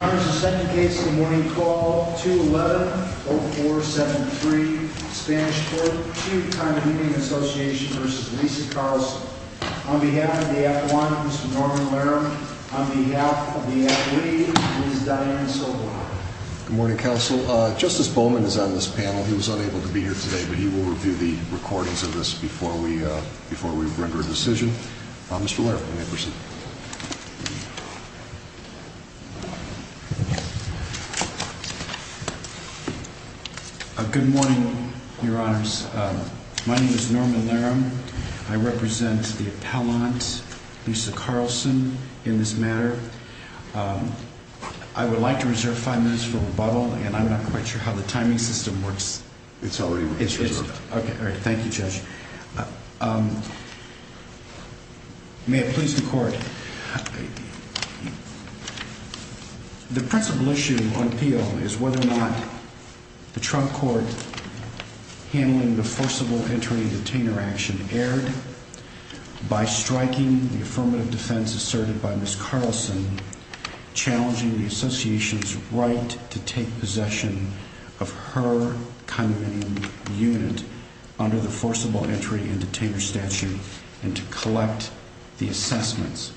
On behalf of the F1, Mr. Norman Larum, on behalf of the F3, Ms. Dianne Soblak. Good morning, counsel. Justice Bowman is on this panel. He was unable to be here today, but he will review the recordings of this before we render a decision. Mr. Larum, may I proceed? Good morning, your honors. My name is Norman Larum. I represent the appellant, Lisa Carlson, in this matter. I would like to reserve five minutes for rebuttal, and I'm not quite sure how the timing system works. It's already reserved. Okay, all right. Thank you, Judge. May it please the Court, the principal issue on appeal is whether or not the Trump Court handling the forcible entry detainer action erred by striking the affirmative defense asserted by Ms. Carlson, challenging the association's right to take possession of her condominium unit under the forcible entry and detainer statute and to collect the assessments.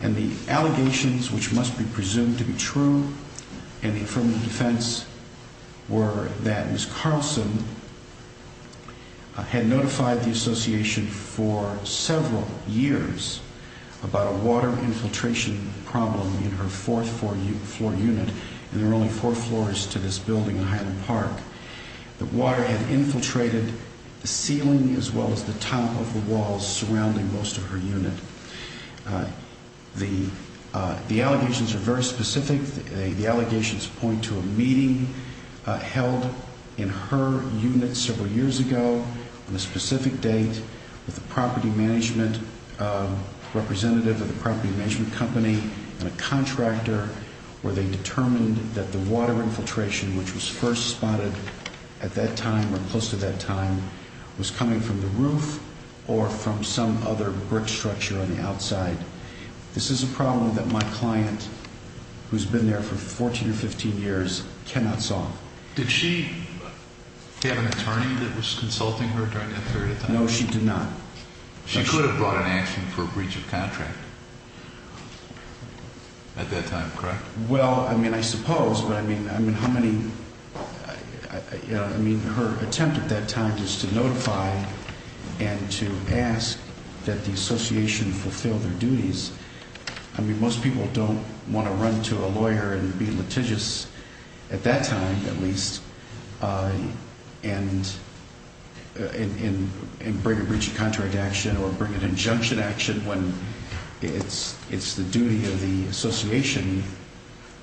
And the allegations which must be presumed to be true in the affirmative defense were that Ms. Carlson had notified the association for several years about a water infiltration problem in her fourth floor unit, and there are only four floors to this building in Highland Park. The water had infiltrated the ceiling as well as the top of the walls surrounding most of her unit. The allegations are very specific. The allegations point to a meeting held in her unit several years ago on a specific date with a property management representative of the property management company and a contractor where they determined that the water infiltration, which was first spotted at that time or close to that time, was coming from the roof or from some other brick structure on the outside. This is a problem that my client, who's been there for 14 or 15 years, cannot solve. Did she have an attorney that was consulting her during that period of time? No, she did not. She could have brought an action for a breach of contract at that time, correct? Well, I mean, I suppose, but I mean, I mean, how many, I mean, her attempt at that time was to notify and to ask that the association fulfill their duties. I mean, most people don't want to run to a lawyer and be litigious at that time, at least, and bring a breach of contract action or bring an injunction action when it's the duty of the association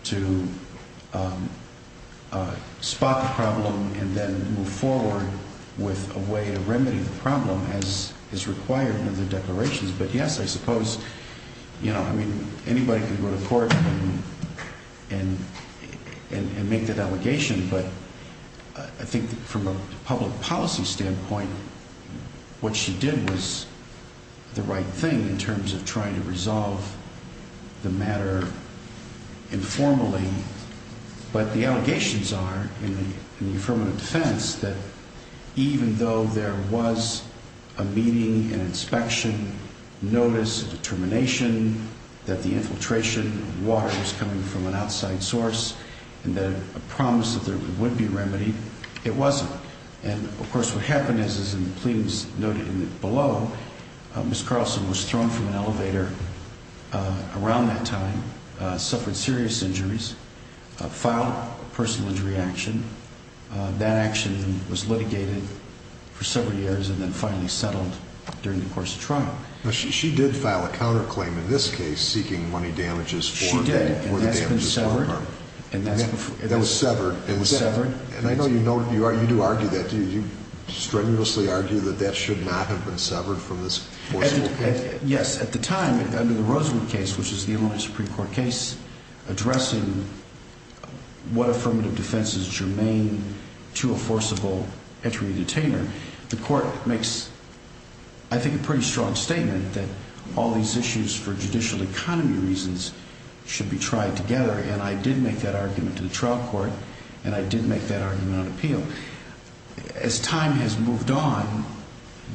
to spot the problem and then move forward with a way of remedying the problem as is required in the declarations. But yes, I suppose, you know, I mean, anybody can go to court and make that allegation, but I think from a public policy standpoint, what she did was the right thing in terms of trying to resolve the matter informally. But the allegations are, in the affirmative defense, that even though there was a meeting, an inspection, notice, a determination that the infiltration of water was coming from an outside source and that a promise that there would be remedy, it wasn't. And, of course, what happened is, as the plea was noted below, Ms. Carlson was thrown from an elevator around that time, suffered serious injuries, filed a personal injury action. That action was litigated for several years and then finally settled during the course of trial. She did file a counterclaim in this case seeking money damages for the damages to her. She did, and that's been severed. That was severed. It was severed. And I know you do argue that. Do you strenuously argue that that should not have been severed from this forcible case? Yes. At the time, under the Rosenwood case, which is the only Supreme Court case addressing what affirmative defense is germane to a forcible entry detainer, the court makes, I think, a pretty strong statement that all these issues for judicial economy reasons should be tried together. And I did make that argument to the trial court, and I did make that argument on appeal. As time has moved on,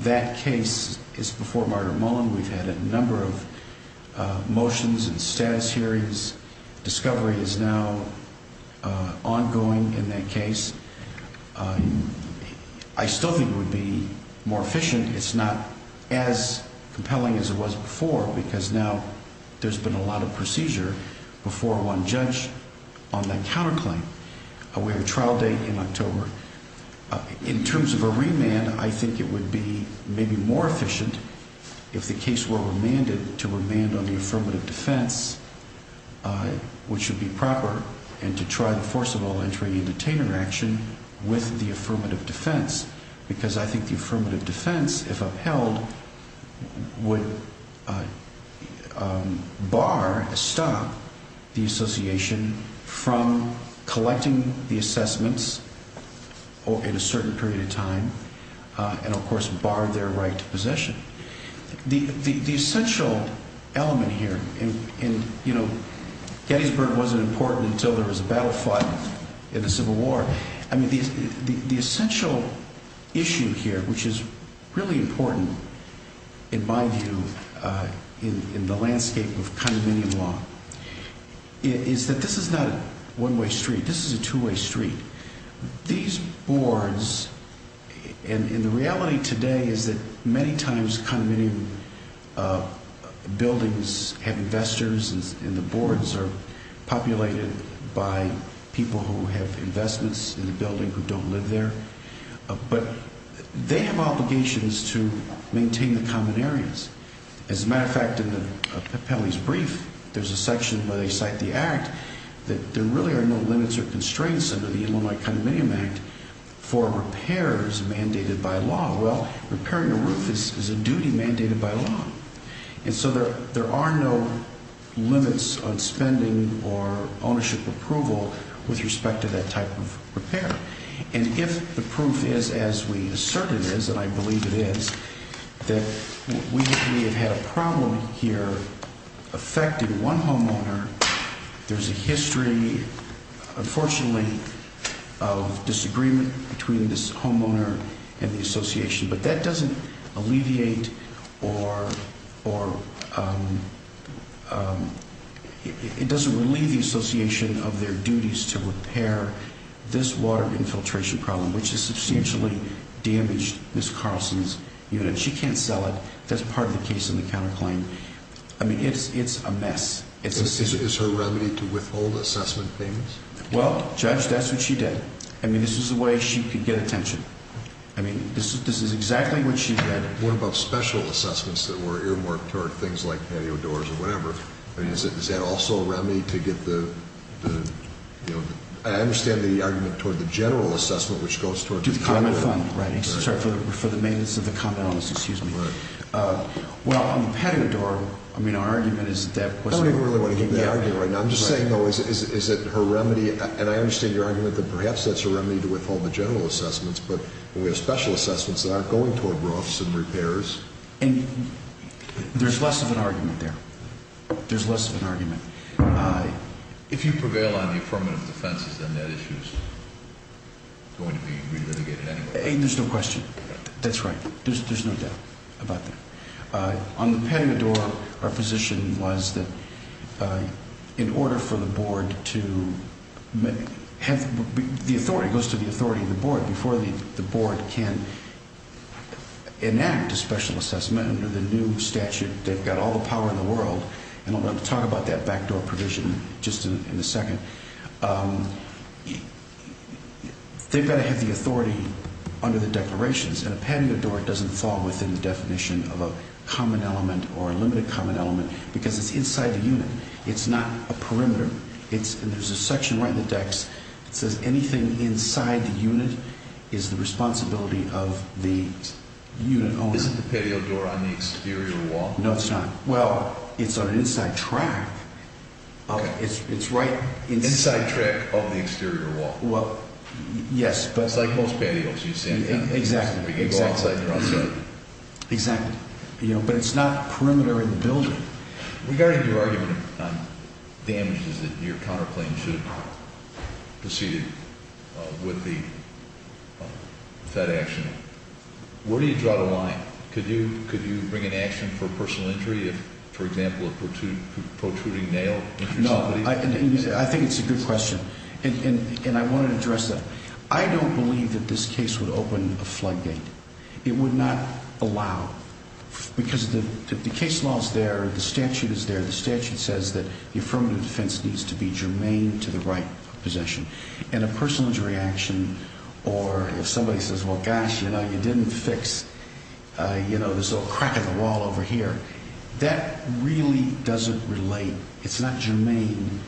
that case is before Martyr Mullen. We've had a number of motions and status hearings. Discovery is now ongoing in that case. I still think it would be more efficient. It's not as compelling as it was before because now there's been a lot of procedure before one judge on that counterclaim. We have a trial date in October. In terms of a remand, I think it would be maybe more efficient if the case were remanded to remand on the affirmative defense, which would be proper, and to try the forcible entry detainer action with the affirmative defense. Because I think the affirmative defense, if upheld, would bar, stop the association from collecting the assessments in a certain period of time and, of course, bar their right to possession. The essential element here, and Gettysburg wasn't important until there was a battle fought in the Civil War. I mean, the essential issue here, which is really important in my view in the landscape of condominium law, is that this is not a one-way street. This is a two-way street. These boards, and the reality today is that many times condominium buildings have investors, and the boards are populated by people who have investments in the building who don't live there. But they have obligations to maintain the common areas. As a matter of fact, in Pelley's brief, there's a section where they cite the act that there really are no limits or constraints under the Illinois Condominium Act for repairs mandated by law. Well, repairing a roof is a duty mandated by law. And so there are no limits on spending or ownership approval with respect to that type of repair. And if the proof is, as we assert it is, and I believe it is, that we have had a problem here affecting one homeowner, there's a history, unfortunately, of disagreement between this homeowner and the association. But that doesn't alleviate or it doesn't relieve the association of their duties to repair this water infiltration problem, which has substantially damaged Ms. Carlson's unit. She can't sell it. That's part of the case in the counterclaim. I mean, it's a mess. Is her remedy to withhold assessment famous? Well, Judge, that's what she did. I mean, this is a way she could get attention. I mean, this is exactly what she did. What about special assessments that were earmarked toward things like patio doors or whatever? I mean, is that also a remedy to get the, you know, I understand the argument toward the general assessment, which goes toward the common element. To the common fund, right. Sorry, for the maintenance of the common elements, excuse me. Right. Well, on the patio door, I mean, our argument is that. I don't even really want to hear that argument right now. I'm just saying, though, is it her remedy? And I understand your argument that perhaps that's a remedy to withhold the general assessments. But we have special assessments that aren't going toward roofs and repairs. And there's less of an argument there. There's less of an argument. If you prevail on the affirmative defenses, then that issue is going to be re-litigated anyway. There's no question. That's right. There's no doubt about that. On the patio door, our position was that in order for the board to have the authority, goes to the authority of the board, before the board can enact a special assessment under the new statute, they've got all the power in the world. And I'm going to talk about that backdoor provision just in a second. They've got to have the authority under the declarations. And a patio door doesn't fall within the definition of a common element or a limited common element because it's inside the unit. It's not a perimeter. And there's a section right in the dex that says anything inside the unit is the responsibility of the unit owner. Isn't the patio door on the exterior wall? No, it's not. Well, it's on an inside track. Okay. It's right inside. Inside track of the exterior wall. Well, yes. It's like most patios you've seen. Exactly. You can go outside and they're outside. Exactly. But it's not a perimeter in the building. Regarding your argument on damages that your counterclaim should have proceeded with that action, where do you draw the line? Could you bring an action for personal injury, for example, a protruding nail? No. I think it's a good question, and I want to address that. I don't believe that this case would open a floodgate. It would not allow, because the case law is there. The statute is there. The statute says that the affirmative defense needs to be germane to the right of possession. And a personal injury action or if somebody says, well, gosh, you didn't fix this little crack in the wall over here, that really doesn't relate. It's not germane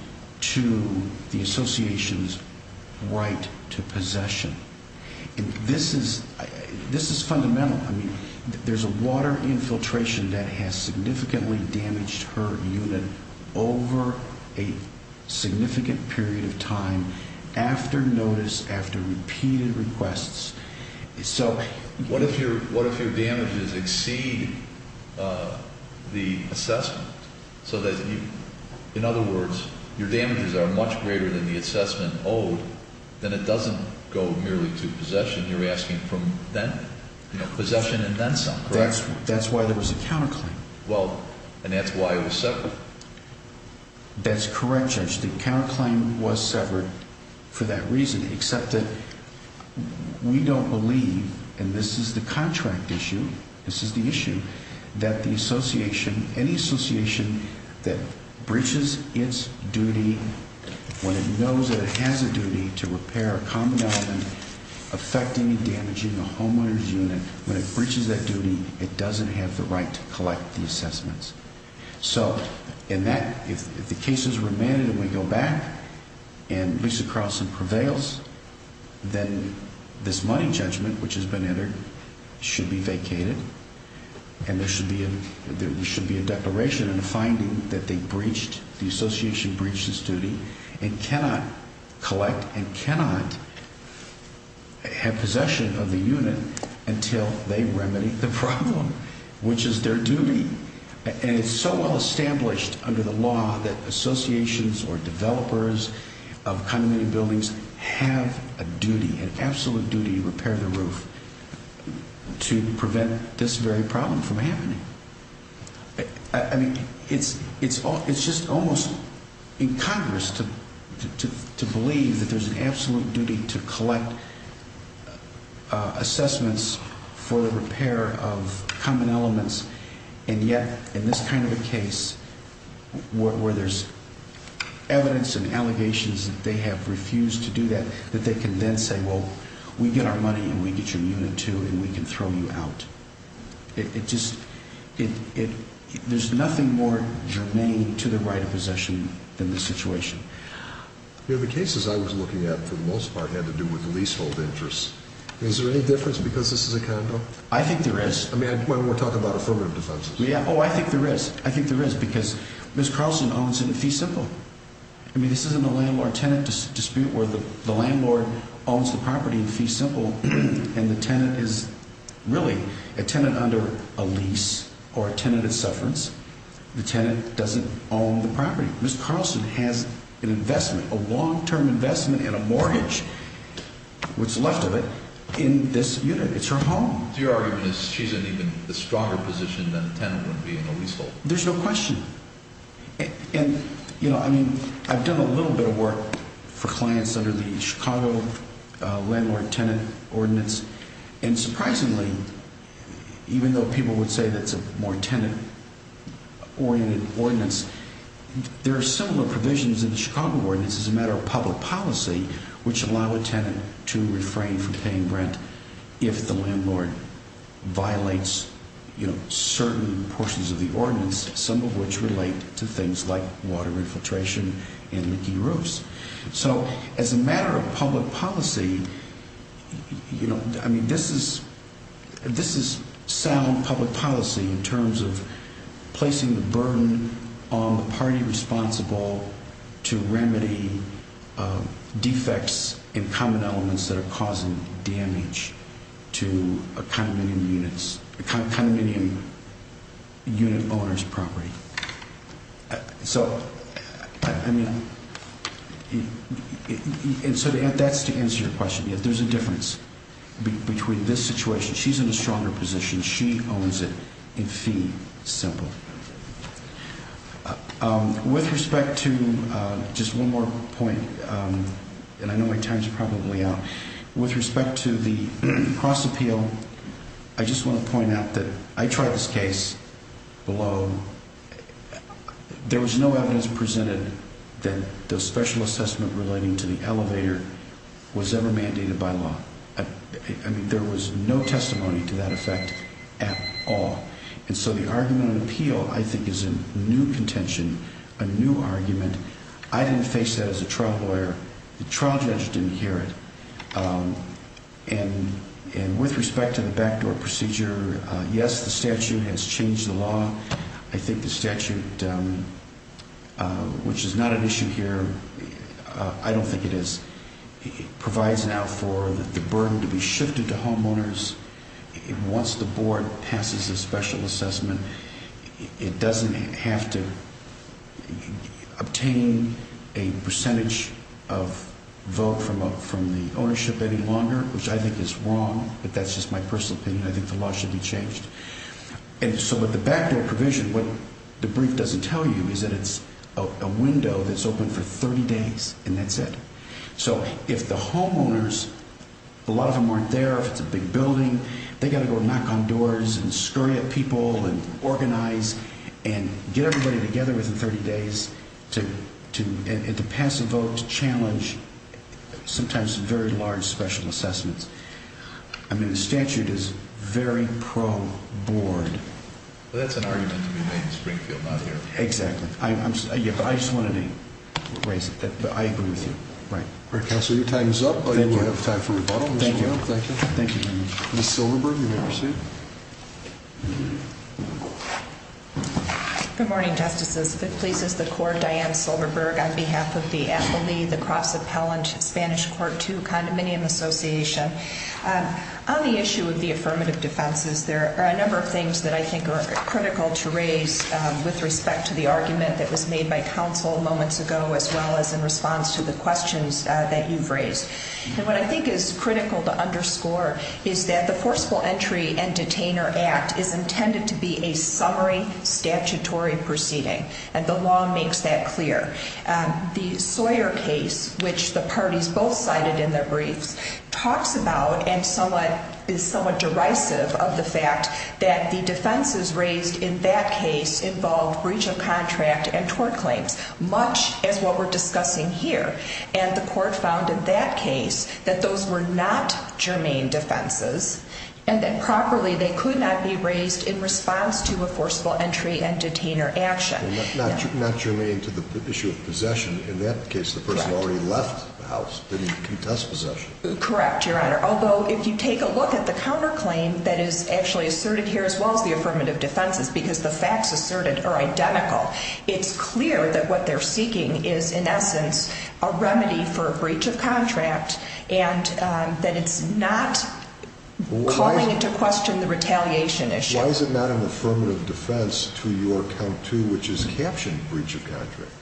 to the association's right to possession. This is fundamental. I mean, there's a water infiltration that has significantly damaged her unit over a significant period of time after notice, after repeated requests. What if your damages exceed the assessment? In other words, your damages are much greater than the assessment owed, then it doesn't go merely to possession. You're asking from then, possession and then some, correct? That's why there was a counterclaim. Well, and that's why it was severed. That's correct, Judge. The counterclaim was severed for that reason, except that we don't believe, and this is the contract issue, this is the issue, that the association, any association that breaches its duty when it knows that it has a duty to repair a common element affecting and damaging a homeowner's unit, when it breaches that duty, it doesn't have the right to collect the assessments. So in that, if the case is remanded and we go back and Lisa Carlson prevails, then this money judgment which has been entered should be vacated and there should be a declaration and a finding that they breached, the association breached its duty and cannot collect and cannot have possession of the unit until they remedy the problem, which is their duty. And it's so well established under the law that associations or developers of condominium buildings have a duty, an absolute duty to repair the roof to prevent this very problem from happening. I mean, it's just almost incongruous to believe that there's an absolute duty to collect assessments for the repair of common elements and yet in this kind of a case where there's evidence and allegations that they have refused to do that, that they can then say, well, we get our money and we get your unit too and we can throw you out. It just, there's nothing more germane to the right of possession than this situation. You know, the cases I was looking at for the most part had to do with leasehold interests. Is there any difference because this is a condo? I think there is. I mean, when we're talking about affirmative defenses. Oh, I think there is. I think there is because Ms. Carlson owns it at Fee Simple. I mean, this isn't a landlord-tenant dispute where the landlord owns the property at Fee Simple and the tenant is really a tenant under a lease or a tenant at Sufferance. The tenant doesn't own the property. Ms. Carlson has an investment, a long-term investment and a mortgage, what's left of it, in this unit. It's her home. So your argument is she's in even a stronger position than a tenant would be in a leasehold? There's no question. And, you know, I mean, I've done a little bit of work for clients under the Chicago landlord-tenant ordinance and surprisingly, even though people would say that's a more tenant-oriented ordinance, there are similar provisions in the Chicago ordinance as a matter of public policy which allow a tenant to refrain from paying rent if the landlord violates, you know, certain portions of the ordinance, some of which relate to things like water infiltration and leaking roofs. So as a matter of public policy, you know, I mean, this is sound public policy in terms of placing the burden on the party responsible to remedy defects and common elements that are causing damage to a condominium unit owner's property. So, I mean, and so that's to answer your question. There's a difference between this situation. She's in a stronger position. She owns it in fee simple. With respect to just one more point, and I know my time's probably out. With respect to the cross appeal, I just want to point out that I tried this case below. There was no evidence presented that the special assessment relating to the elevator was ever mandated by law. I mean, there was no testimony to that effect at all. And so the argument on appeal, I think, is a new contention, a new argument. I didn't face that as a trial lawyer. The trial judge didn't hear it. And with respect to the backdoor procedure, yes, the statute has changed the law. I think the statute, which is not an issue here, I don't think it is, provides now for the burden to be shifted to homeowners. Once the board passes a special assessment, it doesn't have to obtain a percentage of vote from the ownership any longer, which I think is wrong, but that's just my personal opinion. I think the law should be changed. And so with the backdoor provision, what the brief doesn't tell you is that it's a window that's open for 30 days, and that's it. So if the homeowners, a lot of them aren't there, if it's a big building, they've got to go knock on doors and scurry at people and organize and get everybody together within 30 days to pass a vote to challenge sometimes very large special assessments. I mean, the statute is very pro-board. Well, that's an argument to be made in Springfield, not here. Exactly. Yeah, but I just wanted to raise it. I agree with you. Right. All right, Counselor, your time is up. Thank you. You have time for rebuttal. Thank you. Thank you. Ms. Silverberg, you may proceed. Good morning, Justices. If it pleases the Court, Diane Silverberg on behalf of the Appellee, the Cross Appellant, Spanish Court II, Condominium Association. On the issue of the affirmative defenses, there are a number of things that I think are critical to raise with respect to the argument that was made by Counsel moments ago, as well as in response to the questions that you've raised. And what I think is critical to underscore is that the Forcible Entry and Detainer Act is intended to be a summary statutory proceeding, and the law makes that clear. The Sawyer case, which the parties both cited in their briefs, talks about and is somewhat derisive of the fact that the defenses raised in that case involved breach of contract and tort claims, much as what we're discussing here. And the Court found in that case that those were not germane defenses and that properly they could not be raised in response to a forcible entry and detainer action. Not germane to the issue of possession. In that case, the person already left the house. They didn't contest possession. Correct, Your Honor. Although, if you take a look at the counterclaim that is actually asserted here, as well as the affirmative defenses, because the facts asserted are identical, it's clear that what they're seeking is, in essence, a remedy for a breach of contract and that it's not calling into question the retaliation issue. Why is it not an affirmative defense to your count two, which is captioned breach of contract?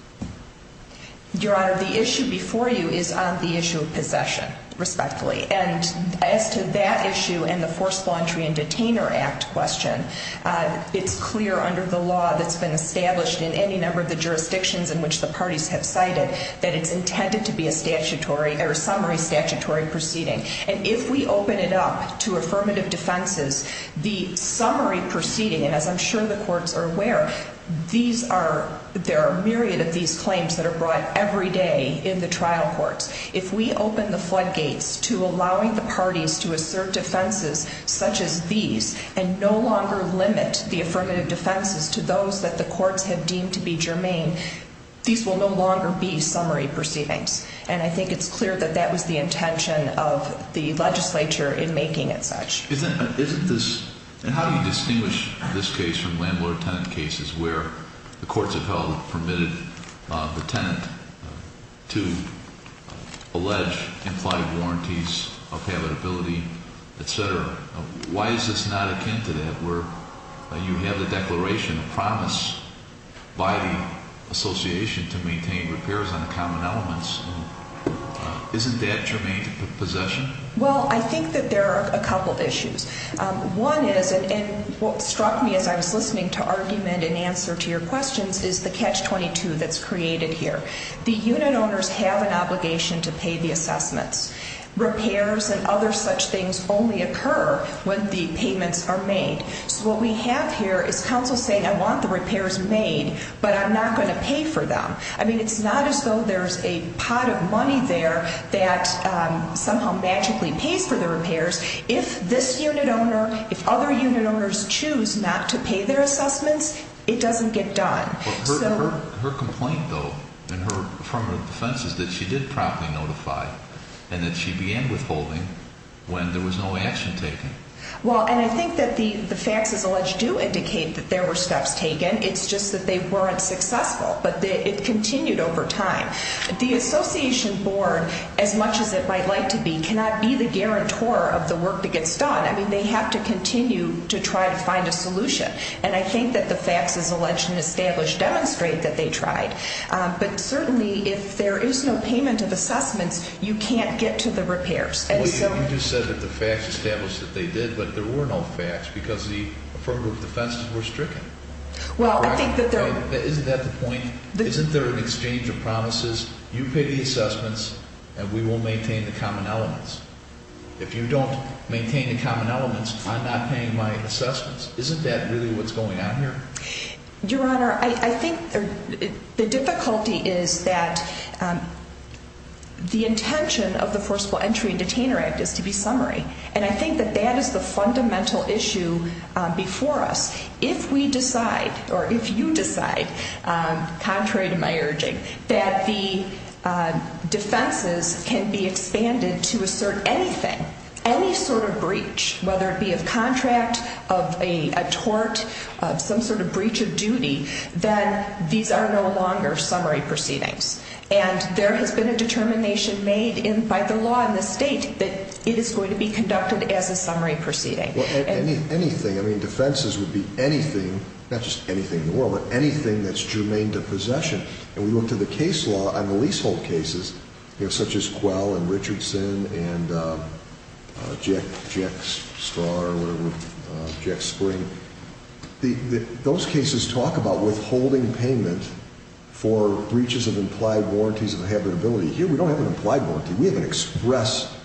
Your Honor, the issue before you is on the issue of possession, respectfully. And as to that issue and the Forcible Entry and Detainer Act question, it's clear under the law that's been established in any number of the jurisdictions in which the parties have cited that it's intended to be a summary statutory proceeding. And if we open it up to affirmative defenses, the summary proceeding, and as I'm sure the courts are aware, there are a myriad of these claims that are brought every day in the trial courts. If we open the floodgates to allowing the parties to assert defenses such as these and no longer limit the affirmative defenses to those that the courts have deemed to be germane, these will no longer be summary proceedings. And I think it's clear that that was the intention of the legislature in making it such. Isn't this, and how do you distinguish this case from landlord-tenant cases where the courts have held permitted the tenant to allege implied warranties of habitability, etc.? Why is this not akin to that where you have the declaration of promise by the association to maintain repairs on the common elements? Isn't that germane to possession? Well, I think that there are a couple issues. One is, and what struck me as I was listening to argument and answer to your questions, is the catch-22 that's created here. The unit owners have an obligation to pay the assessments. Repairs and other such things only occur when the payments are made. So what we have here is counsel saying, I want the repairs made, but I'm not going to pay for them. I mean, it's not as though there's a pot of money there that somehow magically pays for the repairs. If this unit owner, if other unit owners choose not to pay their assessments, it doesn't get done. Her complaint, though, from her defense is that she did promptly notify and that she began withholding when there was no action taken. Well, and I think that the facts as alleged do indicate that there were steps taken. It's just that they weren't successful, but it continued over time. The association board, as much as it might like to be, cannot be the guarantor of the work that gets done. I mean, they have to continue to try to find a solution. And I think that the facts as alleged and established demonstrate that they tried. But certainly, if there is no payment of assessments, you can't get to the repairs. You just said that the facts established that they did, but there were no facts because the affirmative defenses were stricken. Isn't that the point? Isn't there an exchange of promises? You pay the assessments, and we will maintain the common elements. If you don't maintain the common elements, I'm not paying my assessments. Isn't that really what's going on here? Your Honor, I think the difficulty is that the intention of the Forcible Entry and Detainer Act is to be summary. And I think that that is the fundamental issue before us. If we decide, or if you decide, contrary to my urging, that the defenses can be expanded to assert anything, any sort of breach, whether it be of contract, of a tort, some sort of breach of duty, then these are no longer summary proceedings. And there has been a determination made by the law and the state that it is going to be conducted as a summary proceeding. Anything, I mean, defenses would be anything, not just anything in the world, but anything that's germane to possession. And we look to the case law on the leasehold cases, such as Quell and Richardson and Jack Straw or whatever, Jack Spring. Those cases talk about withholding payment for breaches of implied warranties of habitability. Here we don't have an implied warranty. We have an express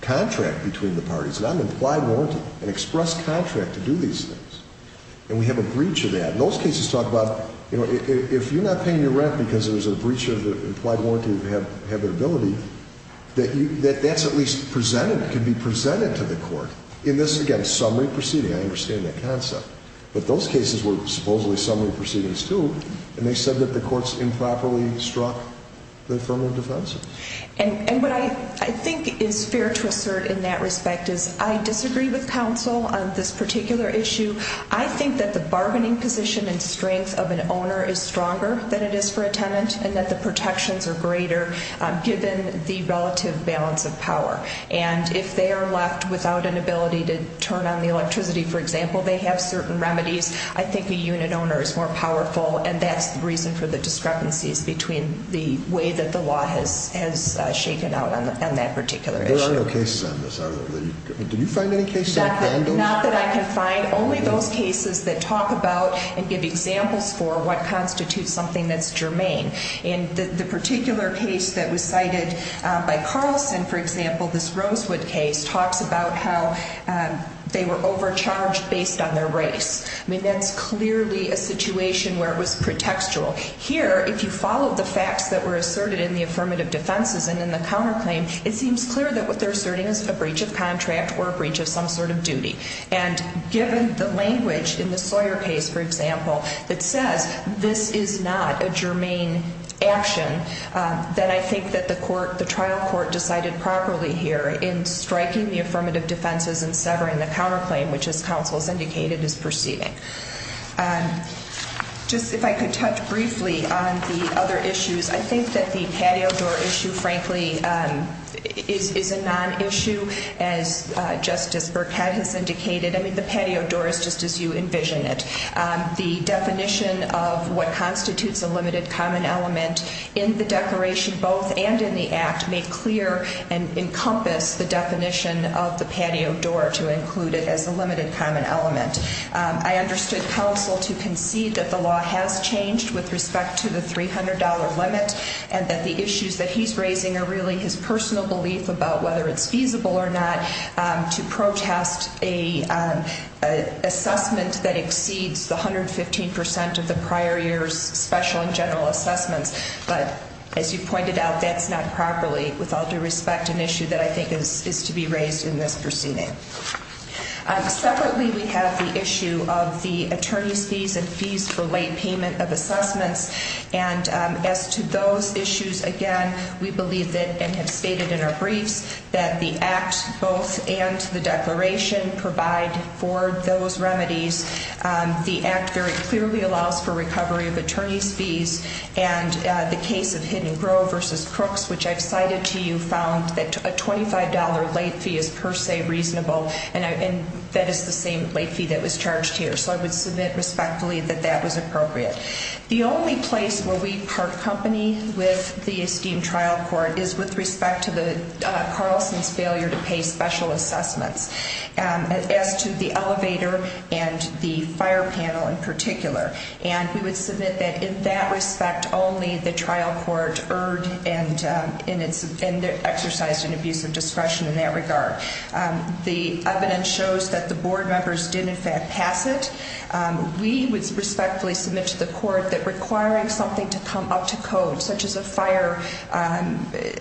contract between the parties. It's not an implied warranty, an express contract to do these things. And we have a breach of that. And those cases talk about, you know, if you're not paying your rent because there's a breach of the implied warranty of habitability, that that's at least presented, can be presented to the court in this, again, summary proceeding. I understand that concept. But those cases were supposedly summary proceedings, too, and they said that the courts improperly struck the affirmative defense. And what I think is fair to assert in that respect is I disagree with counsel on this particular issue. I think that the bargaining position and strength of an owner is stronger than it is for a tenant and that the protections are greater, given the relative balance of power. And if they are left without an ability to turn on the electricity, for example, they have certain remedies. I think a unit owner is more powerful, and that's the reason for the discrepancies between the way that the law has shaken out on that particular issue. There are no cases on this, either. Did you find any cases on candles? Not that I can find. Only those cases that talk about and give examples for what constitutes something that's germane. And the particular case that was cited by Carlson, for example, this Rosewood case, talks about how they were overcharged based on their race. I mean, that's clearly a situation where it was pretextual. Here, if you follow the facts that were asserted in the affirmative defenses and in the counterclaim, it seems clear that what they're asserting is a breach of contract or a breach of some sort of duty. And given the language in the Sawyer case, for example, that says this is not a germane action, then I think that the trial court decided properly here in striking the affirmative defenses and severing the counterclaim, which, as counsel has indicated, is proceeding. Just if I could touch briefly on the other issues, I think that the patio door issue, frankly, is a non-issue, as Justice Burkett has indicated. I mean, the patio door is just as you envision it. The definition of what constitutes a limited common element in the declaration both and in the act make clear and encompass the definition of the patio door to include it as a limited common element. I understood counsel to concede that the law has changed with respect to the $300 limit and that the issues that he's raising are really his personal belief about whether it's feasible or not to protest an assessment that exceeds the 115% of the prior year's special and general assessments. But as you pointed out, that's not properly, with all due respect, an issue that I think is to be raised in this proceeding. Separately, we have the issue of the attorney's fees and fees for late payment of assessments. And as to those issues, again, we believe that and have stated in our briefs that the act both and the declaration provide for those remedies. The act very clearly allows for recovery of attorney's fees. And the case of Hidden Grove v. Crooks, which I've cited to you, found that a $25 late fee is per se reasonable. And that is the same late fee that was charged here. So I would submit respectfully that that was appropriate. The only place where we part company with the esteemed trial court is with respect to Carlson's failure to pay special assessments. As to the elevator and the fire panel in particular. And we would submit that in that respect only the trial court erred and exercised an abuse of discretion in that regard. The evidence shows that the board members did in fact pass it. We would respectfully submit to the court that requiring something to come up to code such as a fire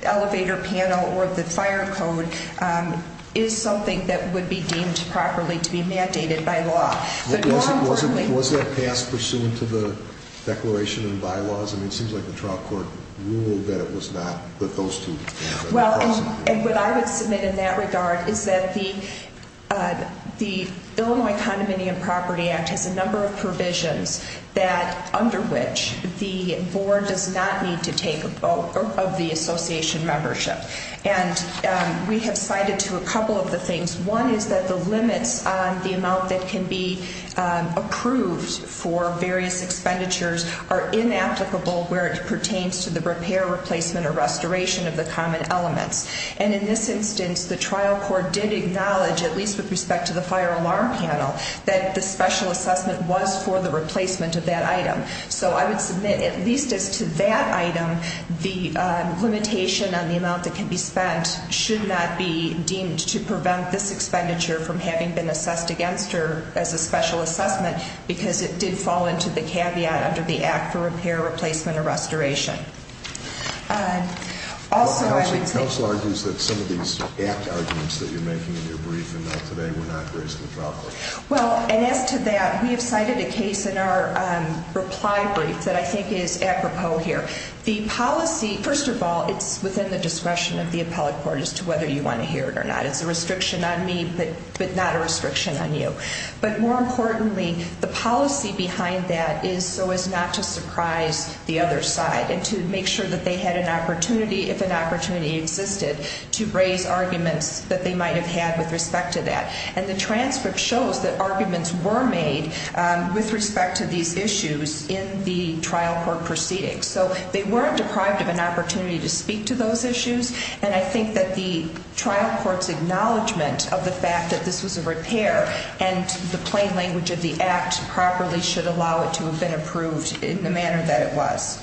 elevator panel or the fire code is something that would be deemed properly to be mandated by law. Was that passed pursuant to the declaration and bylaws? It seems like the trial court ruled that it was not. What I would submit in that regard is that the Illinois Condominium Property Act has a number of provisions that under which the board does not need to take a vote of the association membership. And we have cited to a couple of the things. One is that the limits on the amount that can be approved for various expenditures are inapplicable where it pertains to the repair, replacement, or restoration of the common elements. And in this instance, the trial court did acknowledge, at least with respect to the fire alarm panel, that the special assessment was for the replacement of that item. So I would submit, at least as to that item, the limitation on the amount that can be spent should not be deemed to prevent this expenditure from having been assessed against her as a special assessment because it did fall into the caveat under the Act for Repair, Replacement, or Restoration. Counsel argues that some of these arguments that you're making in your brief and not today were not raised in the trial court. Well, and as to that, we have cited a case in our reply brief that I think is apropos here. The policy, first of all, it's within the discretion of the appellate court as to whether you want to hear it or not. It's a restriction on me, but not a restriction on you. But more importantly, the policy behind that is so as not to surprise the other side and to make sure that they had an opportunity, if an opportunity existed, to raise arguments that they might have had with respect to that. And the transcript shows that arguments were made with respect to these issues in the trial court proceedings. So they weren't deprived of an opportunity to speak to those issues. And I think that the trial court's acknowledgment of the fact that this was a repair and the plain language of the Act properly should allow it to have been approved in the manner that it was.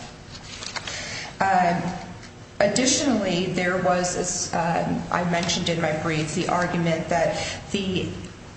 Additionally, there was, as I mentioned in my brief, the argument that the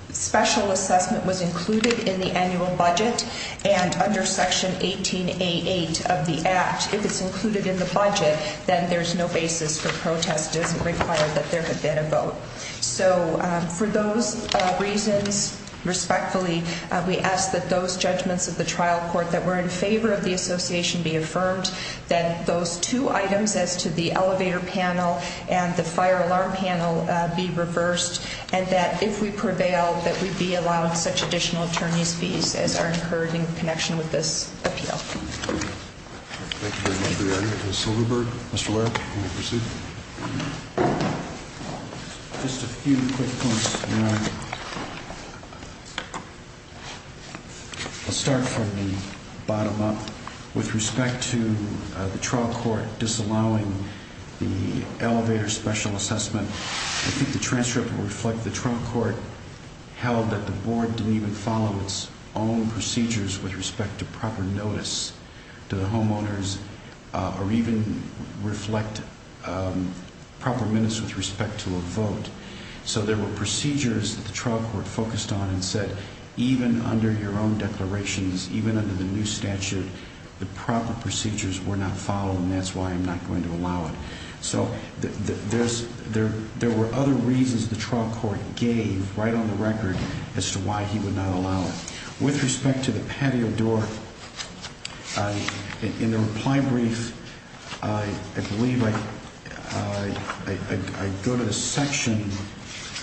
special assessment was included in the annual budget and under Section 1888 of the Act, if it's included in the budget, then there's no basis for protest. It doesn't require that there had been a vote. So for those reasons, respectfully, we ask that those judgments of the trial court that were in favor of the association be affirmed, that those two items as to the elevator panel and the fire alarm panel be reversed, and that if we prevail, that we be allowed such additional attorney's fees as are incurred in connection with this appeal. Thank you very much for the argument, Mr. Silverberg. Mr. Laird, you may proceed. Just a few quick points, Your Honor. I'll start from the bottom up. With respect to the trial court disallowing the elevator special assessment, I think the transcript will reflect the trial court held that the board didn't even follow its own procedures with respect to proper notice to the homeowners or even reflect proper minutes with respect to a vote. So there were procedures that the trial court focused on and said, even under your own declarations, even under the new statute, the proper procedures were not followed, and that's why I'm not going to allow it. So there were other reasons the trial court gave right on the record as to why he would not allow it. With respect to the patio door, in the reply brief, I believe I go to the section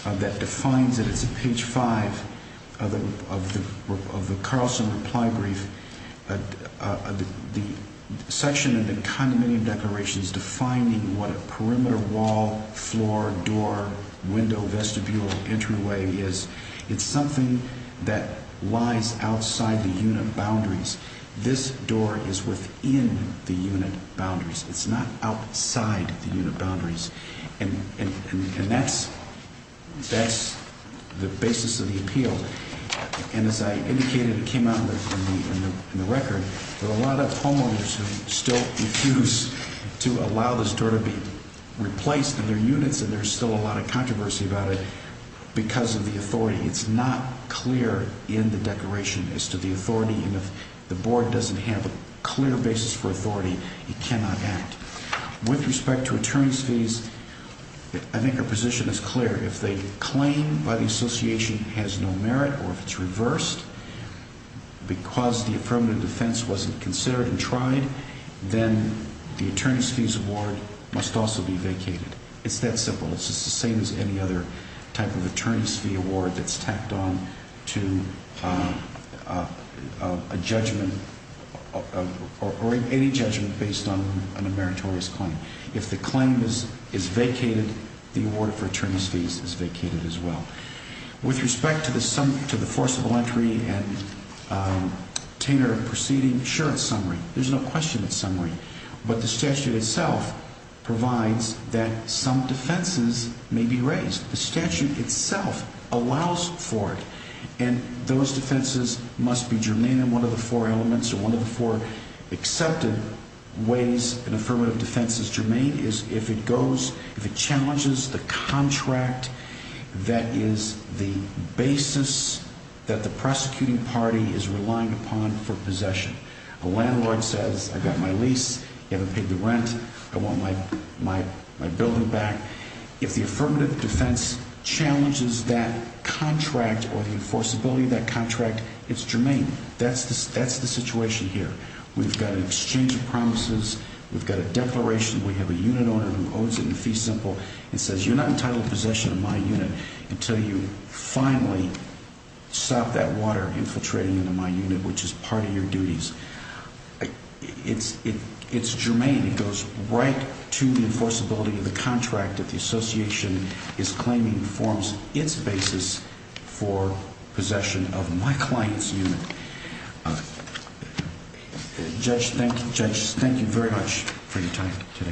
that defines it. It's at page 5 of the Carlson reply brief. The section in the condominium declaration is defining what a perimeter wall, floor, door, window, vestibule, entryway is. It's something that lies outside the unit boundaries. This door is within the unit boundaries. It's not outside the unit boundaries. And that's the basis of the appeal. And as I indicated, it came out in the record that a lot of homeowners still refuse to allow this door to be replaced in their units, and there's still a lot of controversy about it because of the authority. It's not clear in the declaration as to the authority. And if the board doesn't have a clear basis for authority, it cannot act. With respect to attorney's fees, I think our position is clear. If the claim by the association has no merit or if it's reversed because the affirmative defense wasn't considered and tried, then the attorney's fees award must also be vacated. It's that simple. It's just the same as any other type of attorney's fee award that's tacked on to a judgment or any judgment based on a meritorious claim. If the claim is vacated, the award for attorney's fees is vacated as well. With respect to the forcible entry and tainter of proceeding, sure, it's summary. But the statute itself provides that some defenses may be raised. The statute itself allows for it. And those defenses must be germane in one of the four elements or one of the four accepted ways an affirmative defense is germane is if it challenges the contract that is the basis that the prosecuting party is relying upon for possession. A landlord says, I've got my lease, you haven't paid the rent, I want my building back. If the affirmative defense challenges that contract or the enforceability of that contract, it's germane. That's the situation here. We've got an exchange of promises. We've got a declaration. We have a unit owner who owns it in fee simple and says you're not entitled to possession of my unit until you finally stop that water infiltrating into my unit, which is part of your duties. It's germane. It goes right to the enforceability of the contract that the association is claiming forms its basis for possession of my client's unit. Judge, thank you. Judge, thank you very much for your time today.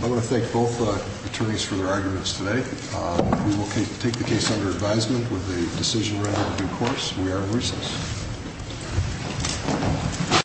I want to thank both attorneys for their arguments today. We will take the case under advisement with the decision. Of course, we are in recess.